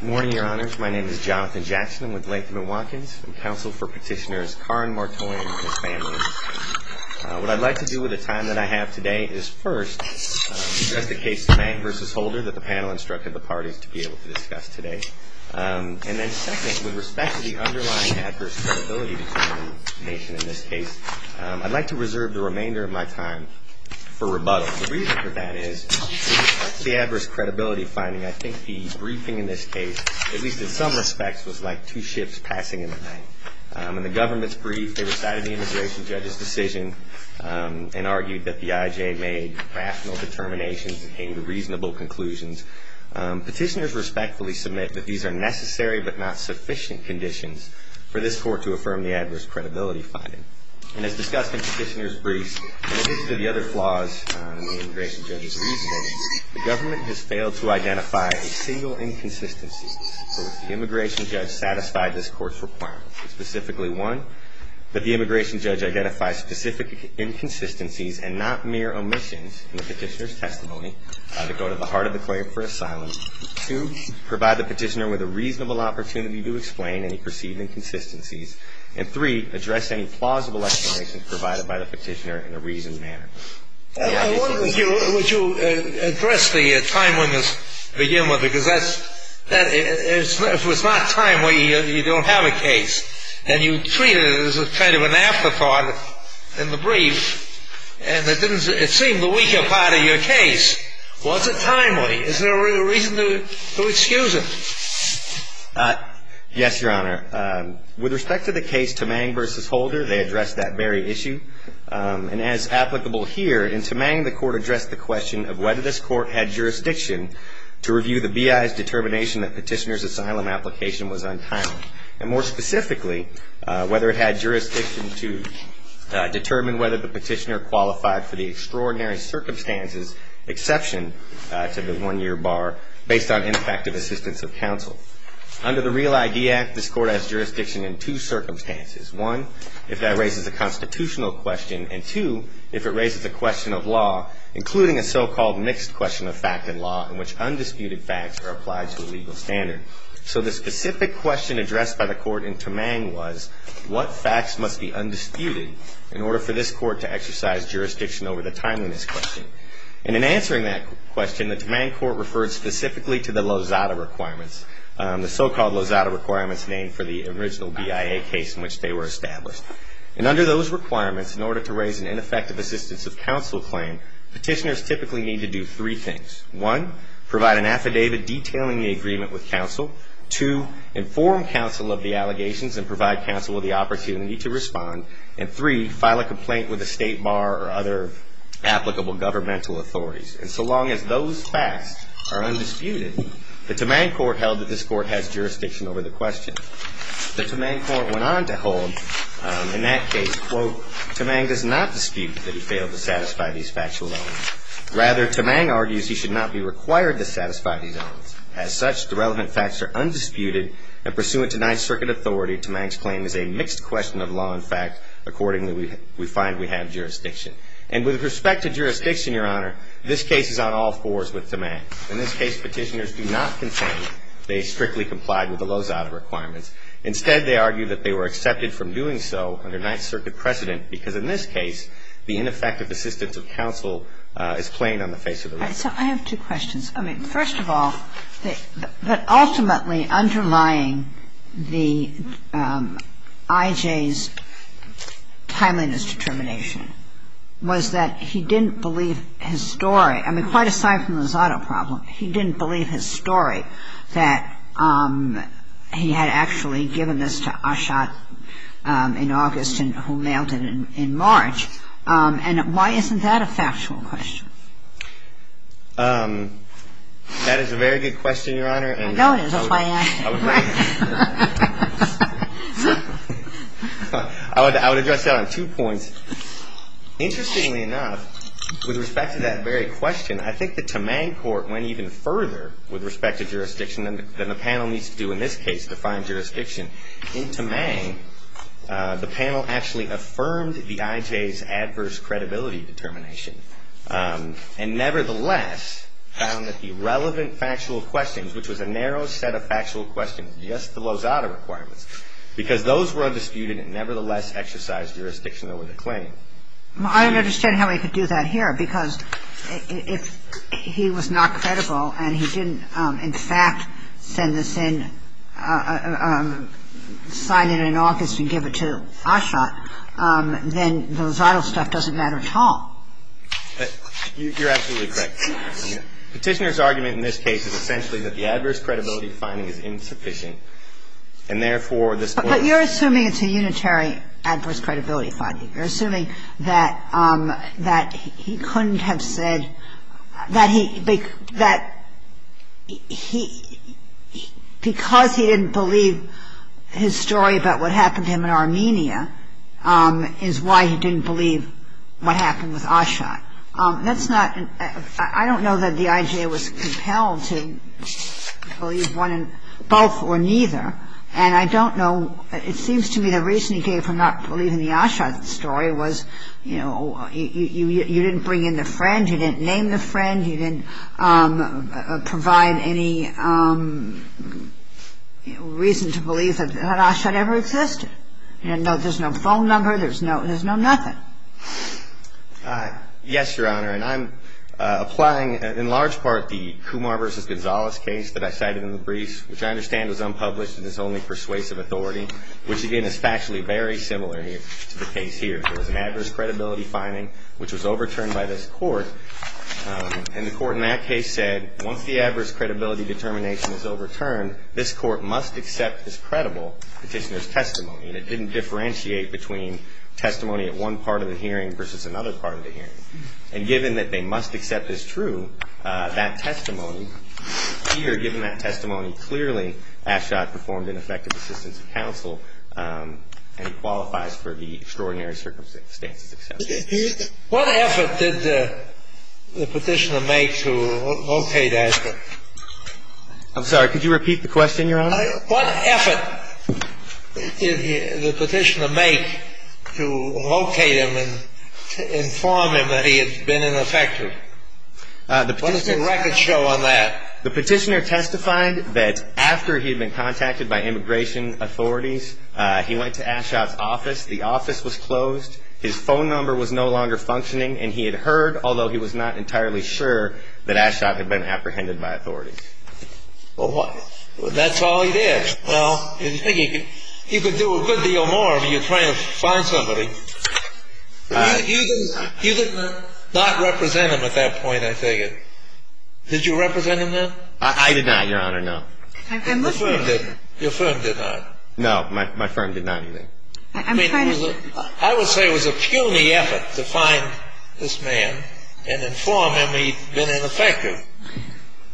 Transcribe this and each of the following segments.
Good morning, your honors. My name is Jonathan Jackson. I'm with Latham & Watkins. I'm counsel for petitioners Karin Martoyan and his family. What I'd like to do with the time that I have today is first, address the case of Mag v. Holder that the panel instructed the parties to be able to discuss today. And then second, with respect to the underlying adverse credibility determination in this case, I'd like to reserve the remainder of my time for rebuttal. The reason for that is, with respect to the adverse credibility finding, I think the briefing in this case, at least in some respects, was like two ships passing in the night. In the government's brief, they recited the immigration judge's decision and argued that the IJ made rational determinations and came to reasonable conclusions. Petitioners respectfully submit that these are necessary but not sufficient conditions for this court to affirm the adverse credibility finding. And as discussed in the petitioner's brief, in addition to the other flaws in the immigration judge's reasoning, the government has failed to identify a single inconsistency for which the immigration judge satisfied this court's requirements. Specifically, one, that the immigration judge identify specific inconsistencies and not mere omissions in the petitioner's testimony to go to the heart of the claim for asylum. Two, provide the petitioner with a reasonable opportunity to explain any perceived inconsistencies. And three, address any plausible explanations provided by the petitioner in a reasoned manner. I wonder, would you address the timeliness to begin with? Because if it's not timely, you don't have a case. And you treat it as kind of an afterthought in the brief, and it seemed the weaker part of your case. Was it timely? Is there a reason to excuse it? Yes, Your Honor. With respect to the case Temang v. Holder, they addressed that very issue. And as applicable here, in Temang, the court addressed the question of whether this court had jurisdiction to review the B.I.'s determination that petitioner's asylum application was untimely. And more specifically, whether it had jurisdiction to determine whether the petitioner qualified for the extraordinary circumstances exception to the one-year bar based on ineffective assistance of counsel. Under the Real ID Act, this court has jurisdiction in two circumstances. One, if that raises a constitutional question. And two, if it raises a question of law, including a so-called mixed question of fact and law in which undisputed facts are applied to a legal standard. So the specific question addressed by the court in Temang was, what facts must be undisputed in order for this court to exercise jurisdiction over the timeliness question? And in answering that question, the Temang court referred specifically to the Lozada requirements. The so-called Lozada requirements named for the original B.I.A. case in which they were established. And under those requirements, in order to raise an ineffective assistance of counsel claim, petitioners typically need to do three things. One, provide an affidavit detailing the agreement with counsel. Two, inform counsel of the allegations and provide counsel with the opportunity to respond. And three, file a complaint with a state bar or other applicable governmental authorities. And so long as those facts are undisputed, the Temang court held that this court has jurisdiction over the question. The Temang court went on to hold, in that case, quote, Temang does not dispute that he failed to satisfy these factual elements. Rather, Temang argues he should not be required to satisfy these elements. As such, the relevant facts are undisputed, and pursuant to Ninth Circuit authority, Temang's claim is a mixed question of law and fact. Accordingly, we find we have jurisdiction. And with respect to jurisdiction, Your Honor, this case is on all fours with Temang. In this case, petitioners do not contain they strictly complied with the Lozada requirements. Instead, they argue that they were accepted from doing so under Ninth Circuit precedent, because in this case, the ineffective assistance of counsel is plain on the face of the record. So I have two questions. I mean, first of all, that ultimately underlying the I.J.'s timeliness determination was that he didn't believe his story. I mean, quite aside from the Lozada problem, he didn't believe his story, that he had actually given this to Achat in August and who mailed it in March. And why isn't that a factual question? That is a very good question, Your Honor. I would address that on two points. Interestingly enough, with respect to that very question, I think the Temang court went even further with respect to jurisdiction than the panel needs to do in this case to find jurisdiction. In Temang, the panel actually affirmed the I.J.'s adverse credibility determination. And nevertheless, found that the relevant factual questions, which was a narrow set of factual questions, just the Lozada requirements, because those were undisputed and nevertheless exercised jurisdiction over the claim. I don't understand how he could do that here, because if he was not credible and he didn't, in fact, send this in, sign it in August and give it to Achat, then the Lozada stuff doesn't matter at all. You're absolutely correct. Petitioner's argument in this case is essentially that the adverse credibility finding is insufficient, and therefore, this point of view. But you're assuming it's a unitary adverse credibility finding. You're assuming that he couldn't have said that he – that because he didn't believe his story about what happened to him in Armenia, is why he didn't believe what happened with Achat. That's not – I don't know that the I.J. was compelled to believe one – both or neither. And I don't know – it seems to me the reason he came from not believing the Achat story was, you know, you didn't bring in the friend. You didn't name the friend. You didn't provide any reason to believe that Achat ever existed. You know, there's no phone number. There's no – there's no nothing. Yes, Your Honor, and I'm applying, in large part, the Kumar v. Gonzalez case that I cited in the briefs, which I understand was unpublished and is only persuasive authority, which, again, is factually very similar to the case here. There was an adverse credibility finding, which was overturned by this Court, and the Court in that case said once the adverse credibility determination is overturned, this Court must accept as credible Petitioner's testimony, and it didn't differentiate between testimony at one part of the hearing versus another part of the hearing. And given that they must accept as true, that testimony here, given that testimony, clearly Achat performed an effective assistance to counsel, and he qualifies for the extraordinary circumstances accepted. What effort did the Petitioner make to locate Achat? I'm sorry, could you repeat the question, Your Honor? What effort did the Petitioner make to locate him and to inform him that he had been ineffective? What is the record show on that? The Petitioner testified that after he had been contacted by immigration authorities, he went to Achat's office. The office was closed. His phone number was no longer functioning, and he had heard, although he was not entirely sure, that Achat had been apprehended by authorities. Well, that's all he did. Well, you could do a good deal more if you're trying to find somebody. You did not represent him at that point, I figure. Did you represent him then? I did not, Your Honor, no. Your firm did not. No, my firm did not. I would say it was a puny effort to find this man and inform him that he had been ineffective.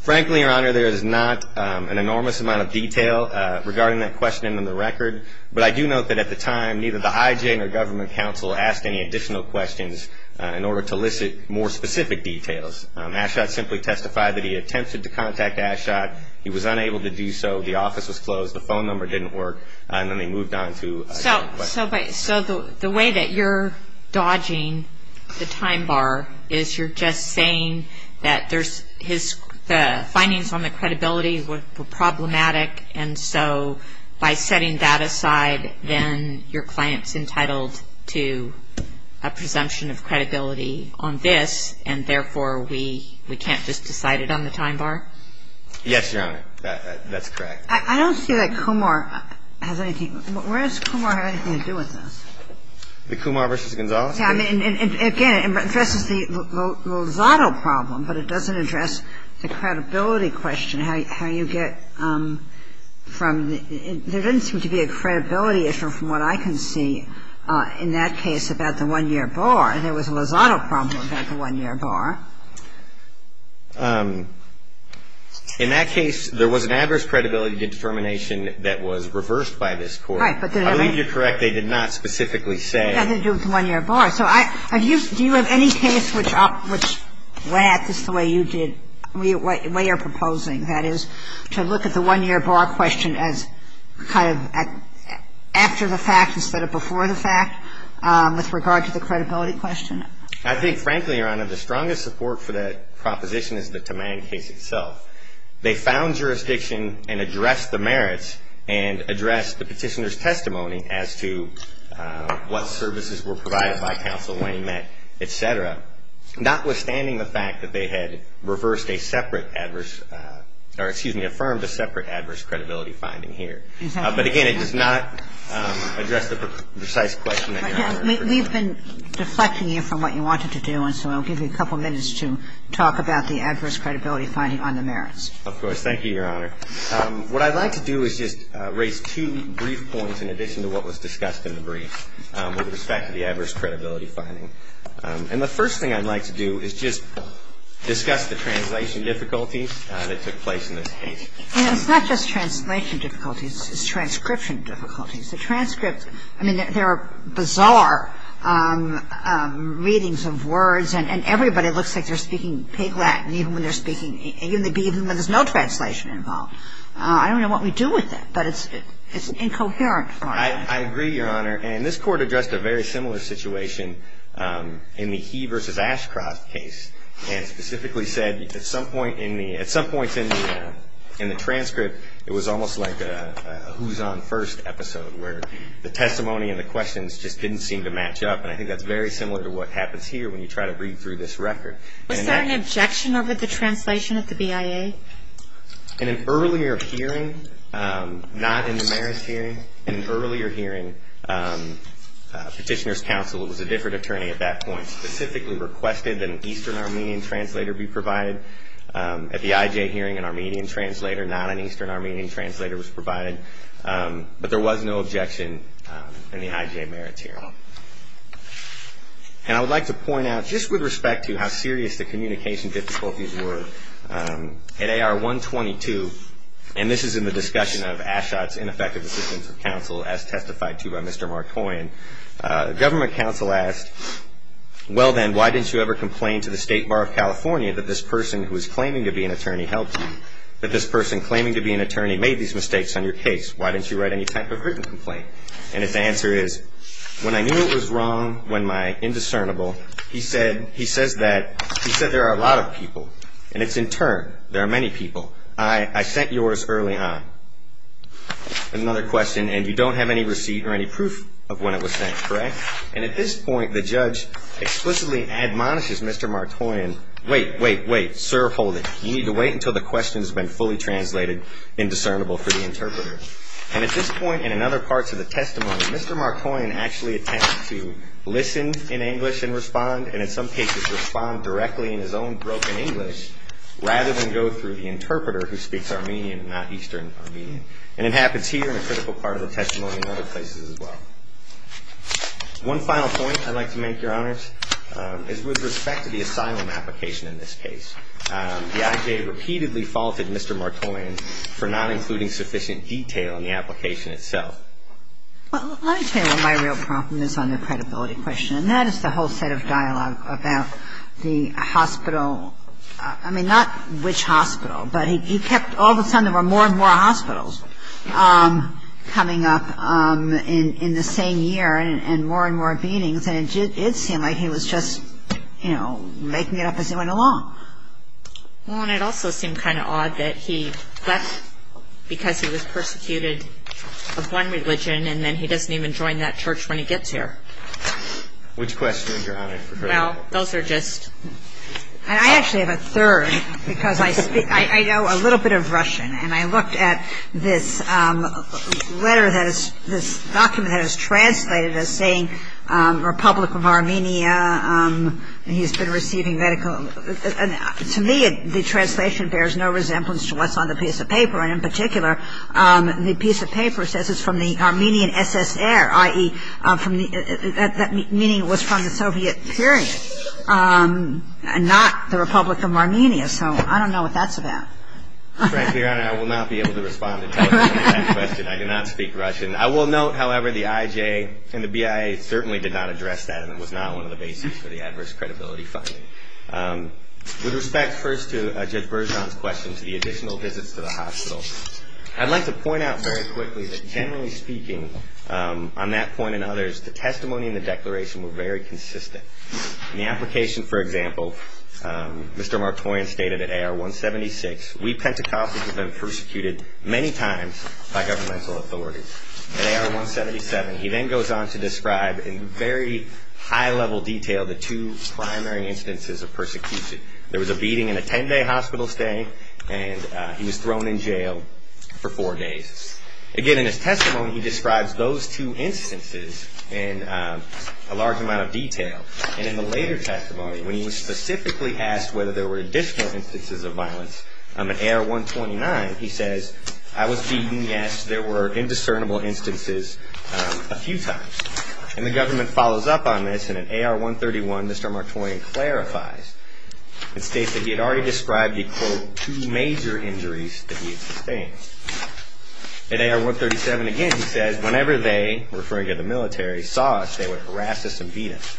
Frankly, Your Honor, there is not an enormous amount of detail regarding that question in the record, but I do note that at the time neither the IJ nor government counsel asked any additional questions in order to elicit more specific details. Achat simply testified that he attempted to contact Achat. He was unable to do so. The office was closed. The phone number didn't work. And then they moved on to a different question. So the way that you're dodging the time bar is you're just saying that the findings on the credibility were problematic, and so by setting that aside, then your client's entitled to a presumption of credibility on this, and therefore we can't just decide it on the time bar? Yes, Your Honor. That's correct. I don't see that Kumar has anything. Where does Kumar have anything to do with this? The Kumar v. Gonzales case? Again, it addresses the Lozado problem, but it doesn't address the credibility question, how you get from the – there doesn't seem to be a credibility issue from what I can see in that case about the 1-year bar. There was a Lozado problem about the 1-year bar. In that case, there was an adverse credibility determination that was reversed by this Court. Right. But did it ever – I believe you're correct. They did not specifically say – It had to do with the 1-year bar. So I – do you have any case which – where this is the way you did – the way you're proposing, that is, to look at the 1-year bar question as kind of after the fact instead of before the fact with regard to the credibility question? I think, frankly, Your Honor, the strongest support for that proposition is the Tamang case itself. They found jurisdiction and addressed the merits and addressed the petitioner's testimony as to what services were provided by counsel when he met, et cetera, notwithstanding the fact that they had reversed a separate adverse – or, excuse me, affirmed a separate adverse credibility finding here. But, again, it does not address the precise question that you're referring to. We've been deflecting you from what you wanted to do, and so I'll give you a couple minutes to talk about the adverse credibility finding on the merits. Of course. Thank you, Your Honor. What I'd like to do is just raise two brief points in addition to what was discussed in the brief with respect to the adverse credibility finding. And the first thing I'd like to do is just discuss the translation difficulties that took place in this case. It's not just translation difficulties. It's transcription difficulties. The transcripts, I mean, there are bizarre readings of words, and everybody looks like they're speaking Pig Latin even when they're speaking – even when there's no translation involved. I don't know what we do with it, but it's incoherent for us. I agree, Your Honor. And this Court addressed a very similar situation in the He v. Ashcroft case and specifically said at some point in the – at some points in the transcript, it was almost like a who's on first episode, where the testimony and the questions just didn't seem to match up, and I think that's very similar to what happens here when you try to read through this record. Was there an objection over the translation at the BIA? In an earlier hearing, not in the merits hearing, in an earlier hearing, Petitioner's counsel was a different attorney at that point, specifically requested that an Eastern Armenian translator be provided. At the IJ hearing, an Armenian translator, not an Eastern Armenian translator, was provided, but there was no objection in the IJ merits hearing. And I would like to point out, just with respect to how serious the communication difficulties were, at AR-122, and this is in the discussion of Ashcroft's ineffective assistance of counsel, as testified to by Mr. Markoian, the government counsel asked, Well then, why didn't you ever complain to the State Bar of California that this person who is claiming to be an attorney helped you? That this person claiming to be an attorney made these mistakes on your case? Why didn't you write any type of written complaint? And his answer is, when I knew it was wrong, when my indiscernible, he said, he says that, he said there are a lot of people, and it's in turn, there are many people. I sent yours early on. Another question, and you don't have any receipt or any proof of when it was sent, correct? And at this point, the judge explicitly admonishes Mr. Markoian, wait, wait, wait, sir, hold it. You need to wait until the question has been fully translated and discernible for the interpreter. And at this point, and in other parts of the testimony, Mr. Markoian actually attempts to listen in English and respond, and in some cases, respond directly in his own broken English, rather than go through the interpreter who speaks Armenian, not Eastern Armenian. And it happens here in a critical part of the testimony and other places as well. One final point I'd like to make, Your Honors, is with respect to the asylum application in this case. The I.J. repeatedly faulted Mr. Markoian for not including sufficient detail in the application itself. Well, let me tell you what my real problem is on the credibility question, and that is the whole set of dialogue about the hospital, I mean, not which hospital, but he kept, all of a sudden there were more and more hospitals coming up in the same year and more and more meetings, and it seemed like he was just, you know, making it up as he went along. Well, and it also seemed kind of odd that he left because he was persecuted of one religion and then he doesn't even join that church when he gets here. Which questions, Your Honor? Well, those are just. I actually have a third because I know a little bit of Russian, and I looked at this letter that is, this document that is translated as saying Republic of Armenia, and he's been receiving medical. To me, the translation bears no resemblance to what's on the piece of paper, and in particular the piece of paper says it's from the Armenian SSR, i.e., meaning it was from the Soviet period and not the Republic of Armenia, so I don't know what that's about. Frankly, Your Honor, I will not be able to respond to that question. I do not speak Russian. I will note, however, the IJ and the BIA certainly did not address that and it was not one of the bases for the adverse credibility finding. With respect, first, to Judge Bergeon's question, to the additional visits to the hospital, I'd like to point out very quickly that generally speaking, on that point and others, the testimony and the declaration were very consistent. In the application, for example, Mr. Martorian stated at AR-176, we Pentecostals have been persecuted many times by governmental authorities. At AR-177, he then goes on to describe in very high-level detail the two primary instances of persecution. There was a beating in a 10-day hospital stay and he was thrown in jail for four days. Again, in his testimony, he describes those two instances in a large amount of detail. And in the later testimony, when he was specifically asked whether there were additional instances of violence, at AR-129, he says, I was beaten, yes, there were indiscernible instances a few times. And the government follows up on this and at AR-131, Mr. Martorian clarifies and states that he had already described the, quote, two major injuries that he had sustained. At AR-137, again, he says, whenever they, referring to the military, saw us, they would harass us and beat us.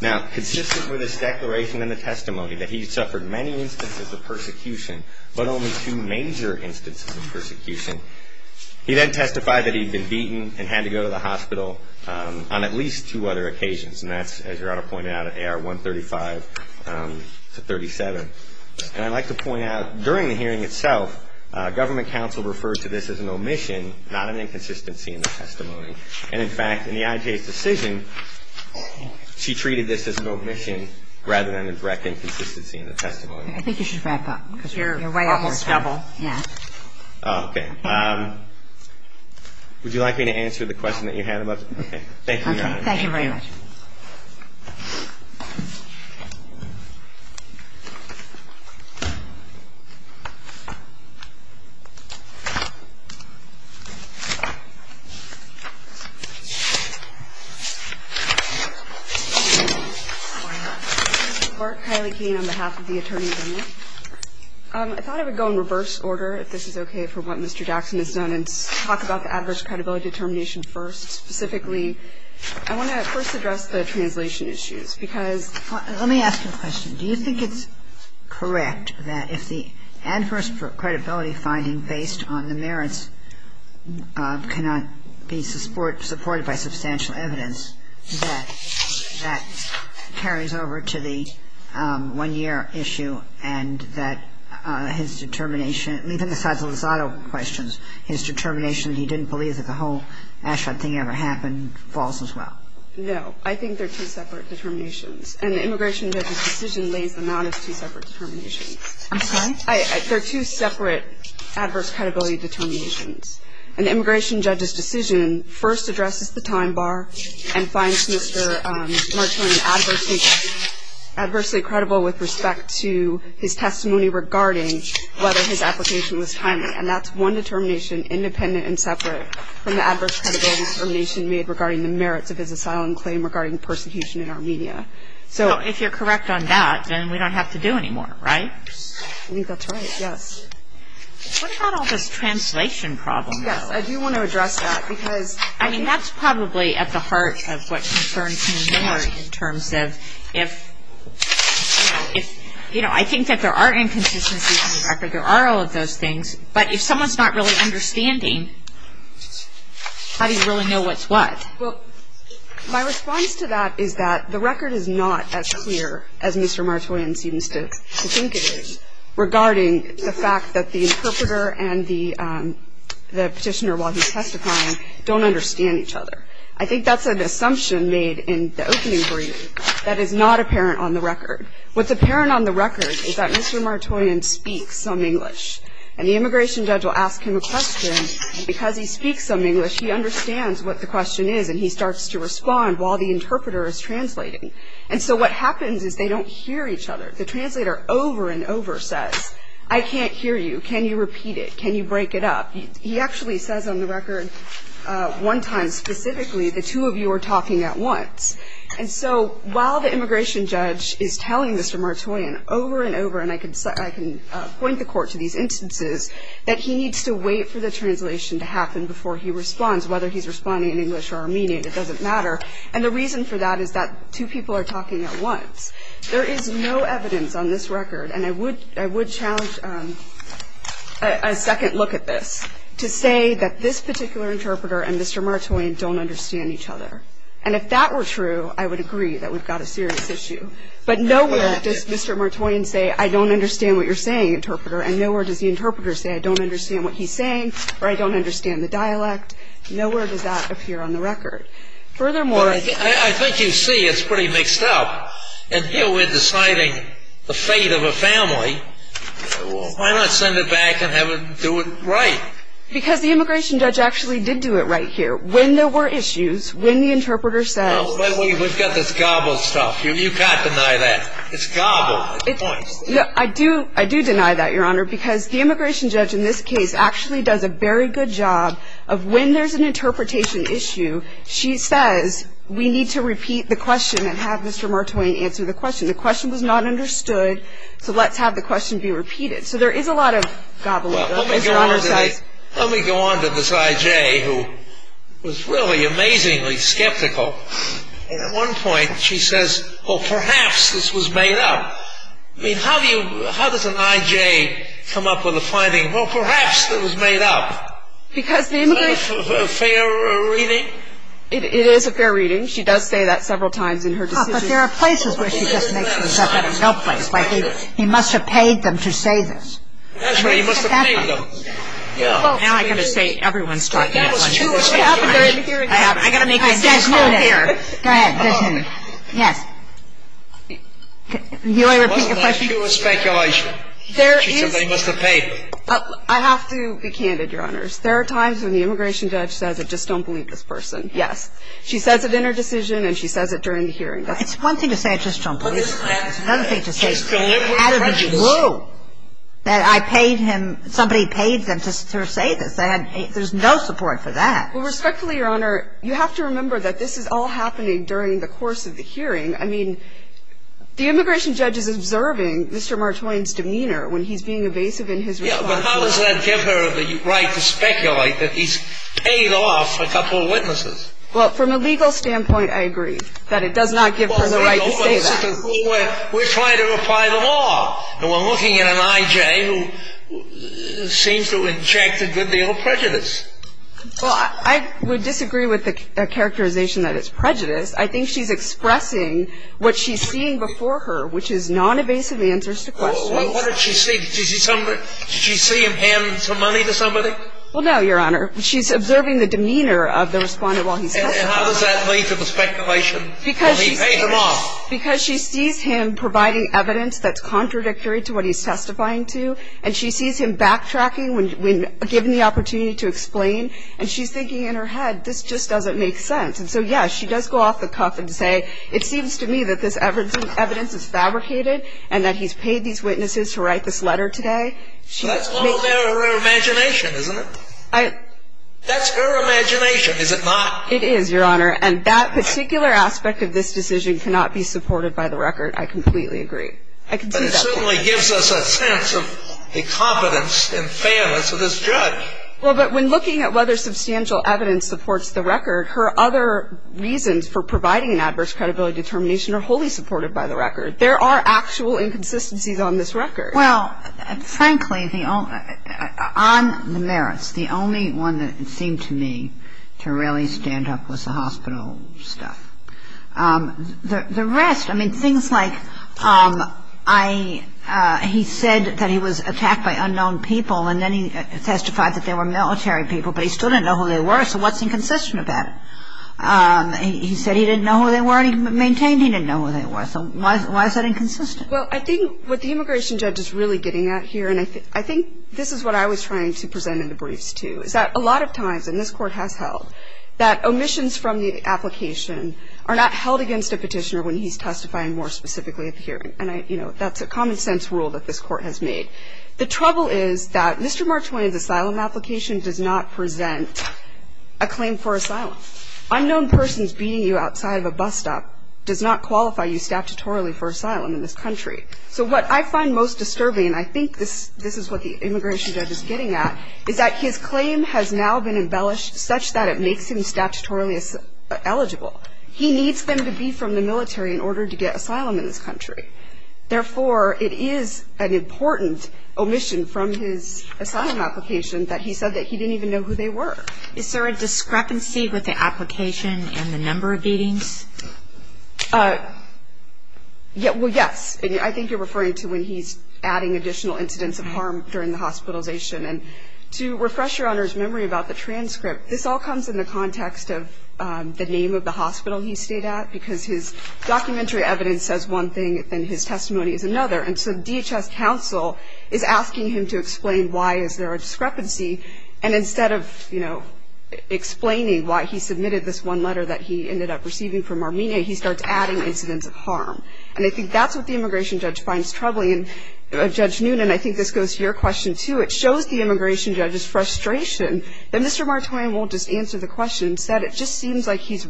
Now, consistent with his declaration in the testimony that he suffered many instances of persecution, but only two major instances of persecution, he then testified that he had been beaten and had to go to the hospital on at least two other occasions. And that's, as Gerardo pointed out, at AR-135 to 37. And I'd like to point out, during the hearing itself, government counsel referred to this as an omission, not an inconsistency in the testimony. And, in fact, in the IJ's decision, she treated this as an omission rather than a direct inconsistency in the testimony. I think you should wrap up. Because you're almost double. Yeah. Okay. Would you like me to answer the question that you had? Okay. Thank you, Your Honor. Thank you very much. Ms. Bart Kiley-Keene, on behalf of the attorney general. I thought I would go in reverse order, if this is okay, for what Mr. Jackson has done, and talk about the adverse credibility determination first. Specifically, I want to first address the translation issues, because – Let me ask you a question. Do you think it's correct that if the adverse credibility finding based on the merits cannot be supported by substantial evidence, that that carries over to the one-year issue and that his determination – even besides the Lozado questions, his determination that he didn't believe that the whole Ashrod thing ever happened falls as well? No. I think they're two separate determinations, and the immigration judge's decision lays them out as two separate determinations. I'm sorry? They're two separate adverse credibility determinations. An immigration judge's decision first addresses the time bar and finds Mr. Marchand adversely credible with respect to his testimony regarding whether his application was timely. And that's one determination independent and separate from the adverse credibility determination made regarding the merits of his asylum claim regarding persecution in Armenia. So if you're correct on that, then we don't have to do any more, right? I think that's right, yes. What about all this translation problem, though? Yes, I do want to address that, because – I mean, that's probably at the heart of what concerns me more in terms of if – you know, I think that there are inconsistencies in the record. There are all of those things. But if someone's not really understanding, how do you really know what's what? Well, my response to that is that the record is not as clear as Mr. Martoyan seems to think it is regarding the fact that the interpreter and the petitioner, while he's testifying, don't understand each other. I think that's an assumption made in the opening brief that is not apparent on the record. What's apparent on the record is that Mr. Martoyan speaks some English, and the immigration judge will ask him a question. Because he speaks some English, he understands what the question is, and he starts to respond while the interpreter is translating. And so what happens is they don't hear each other. The translator over and over says, I can't hear you. Can you repeat it? Can you break it up? He actually says on the record one time specifically, the two of you are talking at once. And so while the immigration judge is telling Mr. Martoyan over and over, and I can point the Court to these instances, that he needs to wait for the translation to happen before he responds, whether he's responding in English or Armenian, it doesn't matter. And the reason for that is that two people are talking at once. There is no evidence on this record, and I would challenge a second look at this, to say that this particular interpreter and Mr. Martoyan don't understand each other. And if that were true, I would agree that we've got a serious issue. But nowhere does Mr. Martoyan say, I don't understand what you're saying, interpreter, and nowhere does the interpreter say, I don't understand what he's saying, or I don't understand the dialect. Nowhere does that appear on the record. Furthermore, I think you see it's pretty mixed up. And here we're deciding the fate of a family. Why not send it back and have them do it right? Because the immigration judge actually did do it right here. When there were issues, when the interpreter says. We've got this gobbled stuff. You can't deny that. It's gobbled. I do deny that, Your Honor, because the immigration judge in this case actually does a very good job of when there's an interpretation issue, she says, we need to repeat the question and have Mr. Martoyan answer the question. The question was not understood, so let's have the question be repeated. So there is a lot of gobbling, as Your Honor says. Let me go on to this I.J. who was really amazingly skeptical. At one point, she says, well, perhaps this was made up. I mean, how does an I.J. come up with a finding, well, perhaps this was made up? Because the immigration judge. Is that a fair reading? It is a fair reading. She does say that several times in her decision. But there are places where she just makes them say that in no place. He must have paid them to say this. That's right. He must have paid them. Now I've got to say everyone's talking at once. I've got to make the same call here. Go ahead. Yes. You want me to repeat your question? She said they must have paid them. I have to be candid, Your Honors. There are times when the immigration judge says, I just don't believe this person. Yes. She says it in her decision, and she says it during the hearing. It's one thing to say, I just don't believe it. It's another thing to say, out of the blue, that I paid him, somebody paid them to say this. There's no support for that. Well, respectfully, Your Honor, you have to remember that this is all happening during the course of the hearing. I mean, the immigration judge is observing Mr. Martwain's demeanor when he's being evasive in his response. Yes, but how does that give her the right to speculate that he's paid off a couple of witnesses? Well, from a legal standpoint, I agree that it does not give her the right to say that. Well, we're trying to apply the law, and we're looking at an I.J. who seems to inject a good deal of prejudice. Well, I would disagree with the characterization that it's prejudice. I think she's expressing what she's seeing before her, which is non-evasive answers to questions. Well, what did she see? Did she see him hand some money to somebody? Well, no, Your Honor. She's observing the demeanor of the respondent while he's testifying. And how does that lead to the speculation that he paid him off? Because she sees him providing evidence that's contradictory to what he's testifying to, and she sees him backtracking when given the opportunity to explain. And she's thinking in her head, this just doesn't make sense. And so, yes, she does go off the cuff and say, it seems to me that this evidence is fabricated and that he's paid these witnesses to write this letter today. That's all in her imagination, isn't it? It is, Your Honor. And that particular aspect of this decision cannot be supported by the record. I completely agree. I can see that. But it certainly gives us a sense of the competence and fairness of this judge. Well, but when looking at whether substantial evidence supports the record, her other reasons for providing an adverse credibility determination are wholly supported by the record. There are actual inconsistencies on this record. Well, frankly, on the merits, the only one that seemed to me to really stand up was the hospital stuff. The rest, I mean, things like he said that he was attacked by unknown people, and then he testified that they were military people, but he still didn't know who they were, so what's inconsistent about it? He said he didn't know who they were, and he maintained he didn't know who they were. So why is that inconsistent? Well, I think what the immigration judge is really getting at here, and I think this is what I was trying to present in the briefs, too, is that a lot of times, and this Court has held, that omissions from the application are not held against a petitioner when he's testifying more specifically at the hearing. And, you know, that's a common-sense rule that this Court has made. The trouble is that Mr. Marchwine's asylum application does not present a claim for asylum. Unknown persons beating you outside of a bus stop does not qualify you statutorily for asylum in this country. So what I find most disturbing, and I think this is what the immigration judge is getting at, is that his claim has now been embellished such that it makes him statutorily eligible. He needs them to be from the military in order to get asylum in this country. Therefore, it is an important omission from his asylum application that he said that he didn't even know who they were. Is there a discrepancy with the application and the number of beatings? Well, yes. I think you're referring to when he's adding additional incidents of harm during the hospitalization. And to refresh Your Honor's memory about the transcript, this all comes in the context of the name of the hospital he stayed at, because his documentary evidence says one thing and his testimony is another. And so DHS counsel is asking him to explain why is there a discrepancy, and instead of, you know, explaining why he submitted this one letter that he ended up receiving from Armenia, he starts adding incidents of harm. And I think that's what the immigration judge finds troubling. And Judge Noonan, I think this goes to your question, too. It shows the immigration judge's frustration that Mr. Martorian won't just answer the question. Instead, it just seems like he's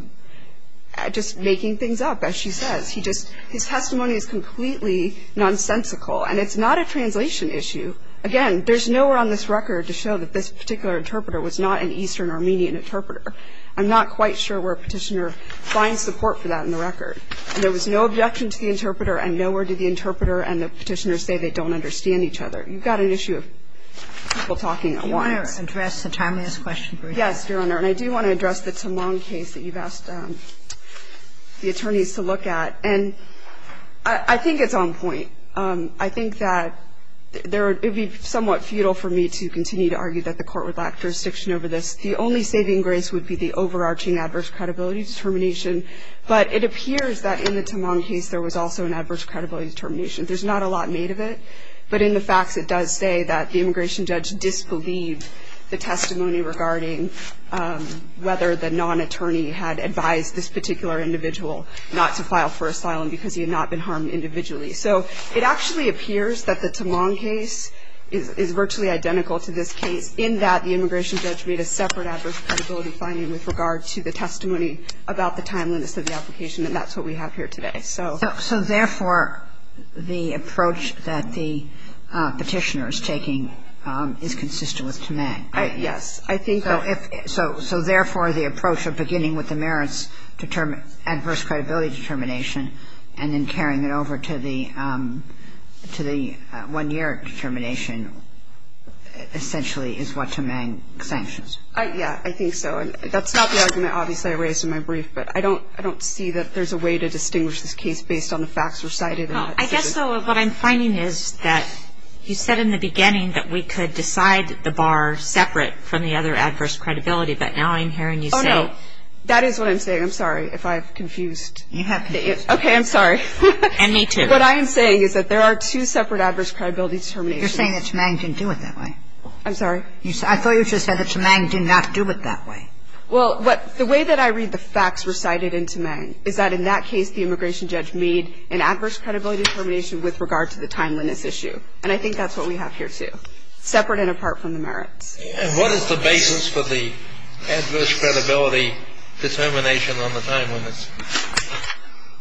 just making things up, as she says. He just his testimony is completely nonsensical, and it's not a translation issue. Again, there's nowhere on this record to show that this particular interpreter was not an Eastern Armenian interpreter. I'm not quite sure where Petitioner finds support for that in the record. And there was no objection to the interpreter and nowhere did the interpreter and the Petitioner say they don't understand each other. You've got an issue of people talking at once. Do you want to address the time-lost question briefly? Yes, Your Honor. And I do want to address the Timlong case that you've asked the attorneys to look at. And I think it's on point. I think that it would be somewhat futile for me to continue to argue that the court would lack jurisdiction over this. The only saving grace would be the overarching adverse credibility determination. But it appears that in the Timlong case, there was also an adverse credibility determination. There's not a lot made of it. But in the facts, it does say that the immigration judge disbelieved the testimony regarding whether the non-attorney had advised this particular individual not to file for asylum because he had not been harmed individually. So it actually appears that the Timlong case is virtually identical to this case in that the immigration judge made a separate adverse credibility finding with regard to the testimony about the timeliness of the application. And that's what we have here today. So therefore, the approach that the Petitioner is taking is consistent with Timlong. Yes. So therefore, the approach of beginning with the merits adverse credibility determination and then carrying it over to the one-year determination essentially is what to make sanctions. Yeah, I think so. That's not the argument, obviously, I raised in my brief. But I don't see that there's a way to distinguish this case based on the facts recited. I guess, though, what I'm finding is that you said in the beginning that we could decide the bar separate from the other adverse credibility. But now I'm hearing you say. Oh, no. That is what I'm saying. I'm sorry if I've confused. You have confused. Okay, I'm sorry. And me too. What I am saying is that there are two separate adverse credibility determinations. You're saying that Tamang didn't do it that way. I'm sorry? I thought you just said that Tamang did not do it that way. Well, the way that I read the facts recited in Tamang is that in that case, the immigration judge made an adverse credibility determination with regard to the timeliness issue. And I think that's what we have here too. Separate and apart from the merits. And what is the basis for the adverse credibility determination on the timeliness?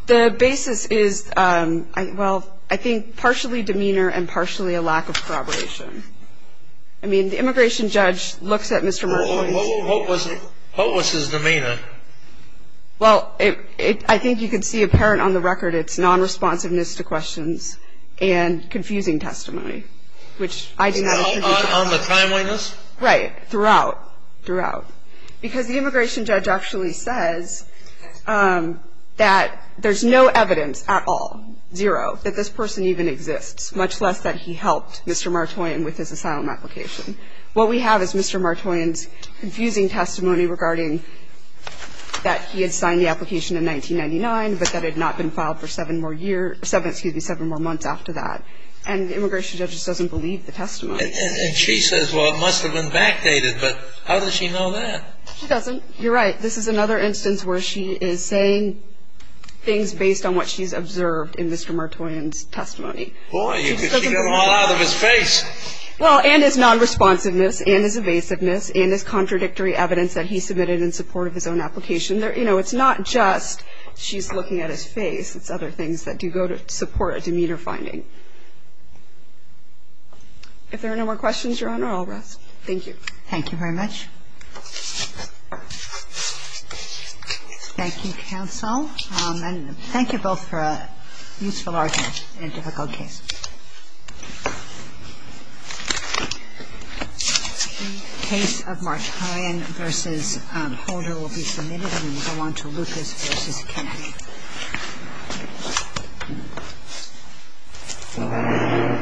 The basis is, well, I think partially demeanor and partially a lack of corroboration. I mean, the immigration judge looks at Mr. Merkowitz. What was his demeanor? Well, I think you can see apparent on the record it's non-responsiveness to questions and confusing testimony, which I do not agree with. On the timeliness? Right. Throughout. Throughout. Because the immigration judge actually says that there's no evidence at all, zero, that this person even exists, much less that he helped Mr. Martoyan with his asylum application. What we have is Mr. Martoyan's confusing testimony regarding that he had signed the application in 1999 but that it had not been filed for seven more years, excuse me, seven more months after that. And the immigration judge just doesn't believe the testimony. And she says, well, it must have been backdated. But how does she know that? She doesn't. You're right. This is another instance where she is saying things based on what she's observed in Mr. Martoyan's testimony. Boy, you could get them all out of his face. Well, and his non-responsiveness and his evasiveness and his contradictory evidence that he submitted in support of his own application. You know, it's not just she's looking at his face. It's other things that do go to support a demeanor finding. If there are no more questions, Your Honor, I'll rest. Thank you. Thank you very much. Thank you, counsel. And thank you both for a useful argument in a difficult case. The case of Martoyan v. Holder will be submitted and will go on to Lucas v. Kennedy.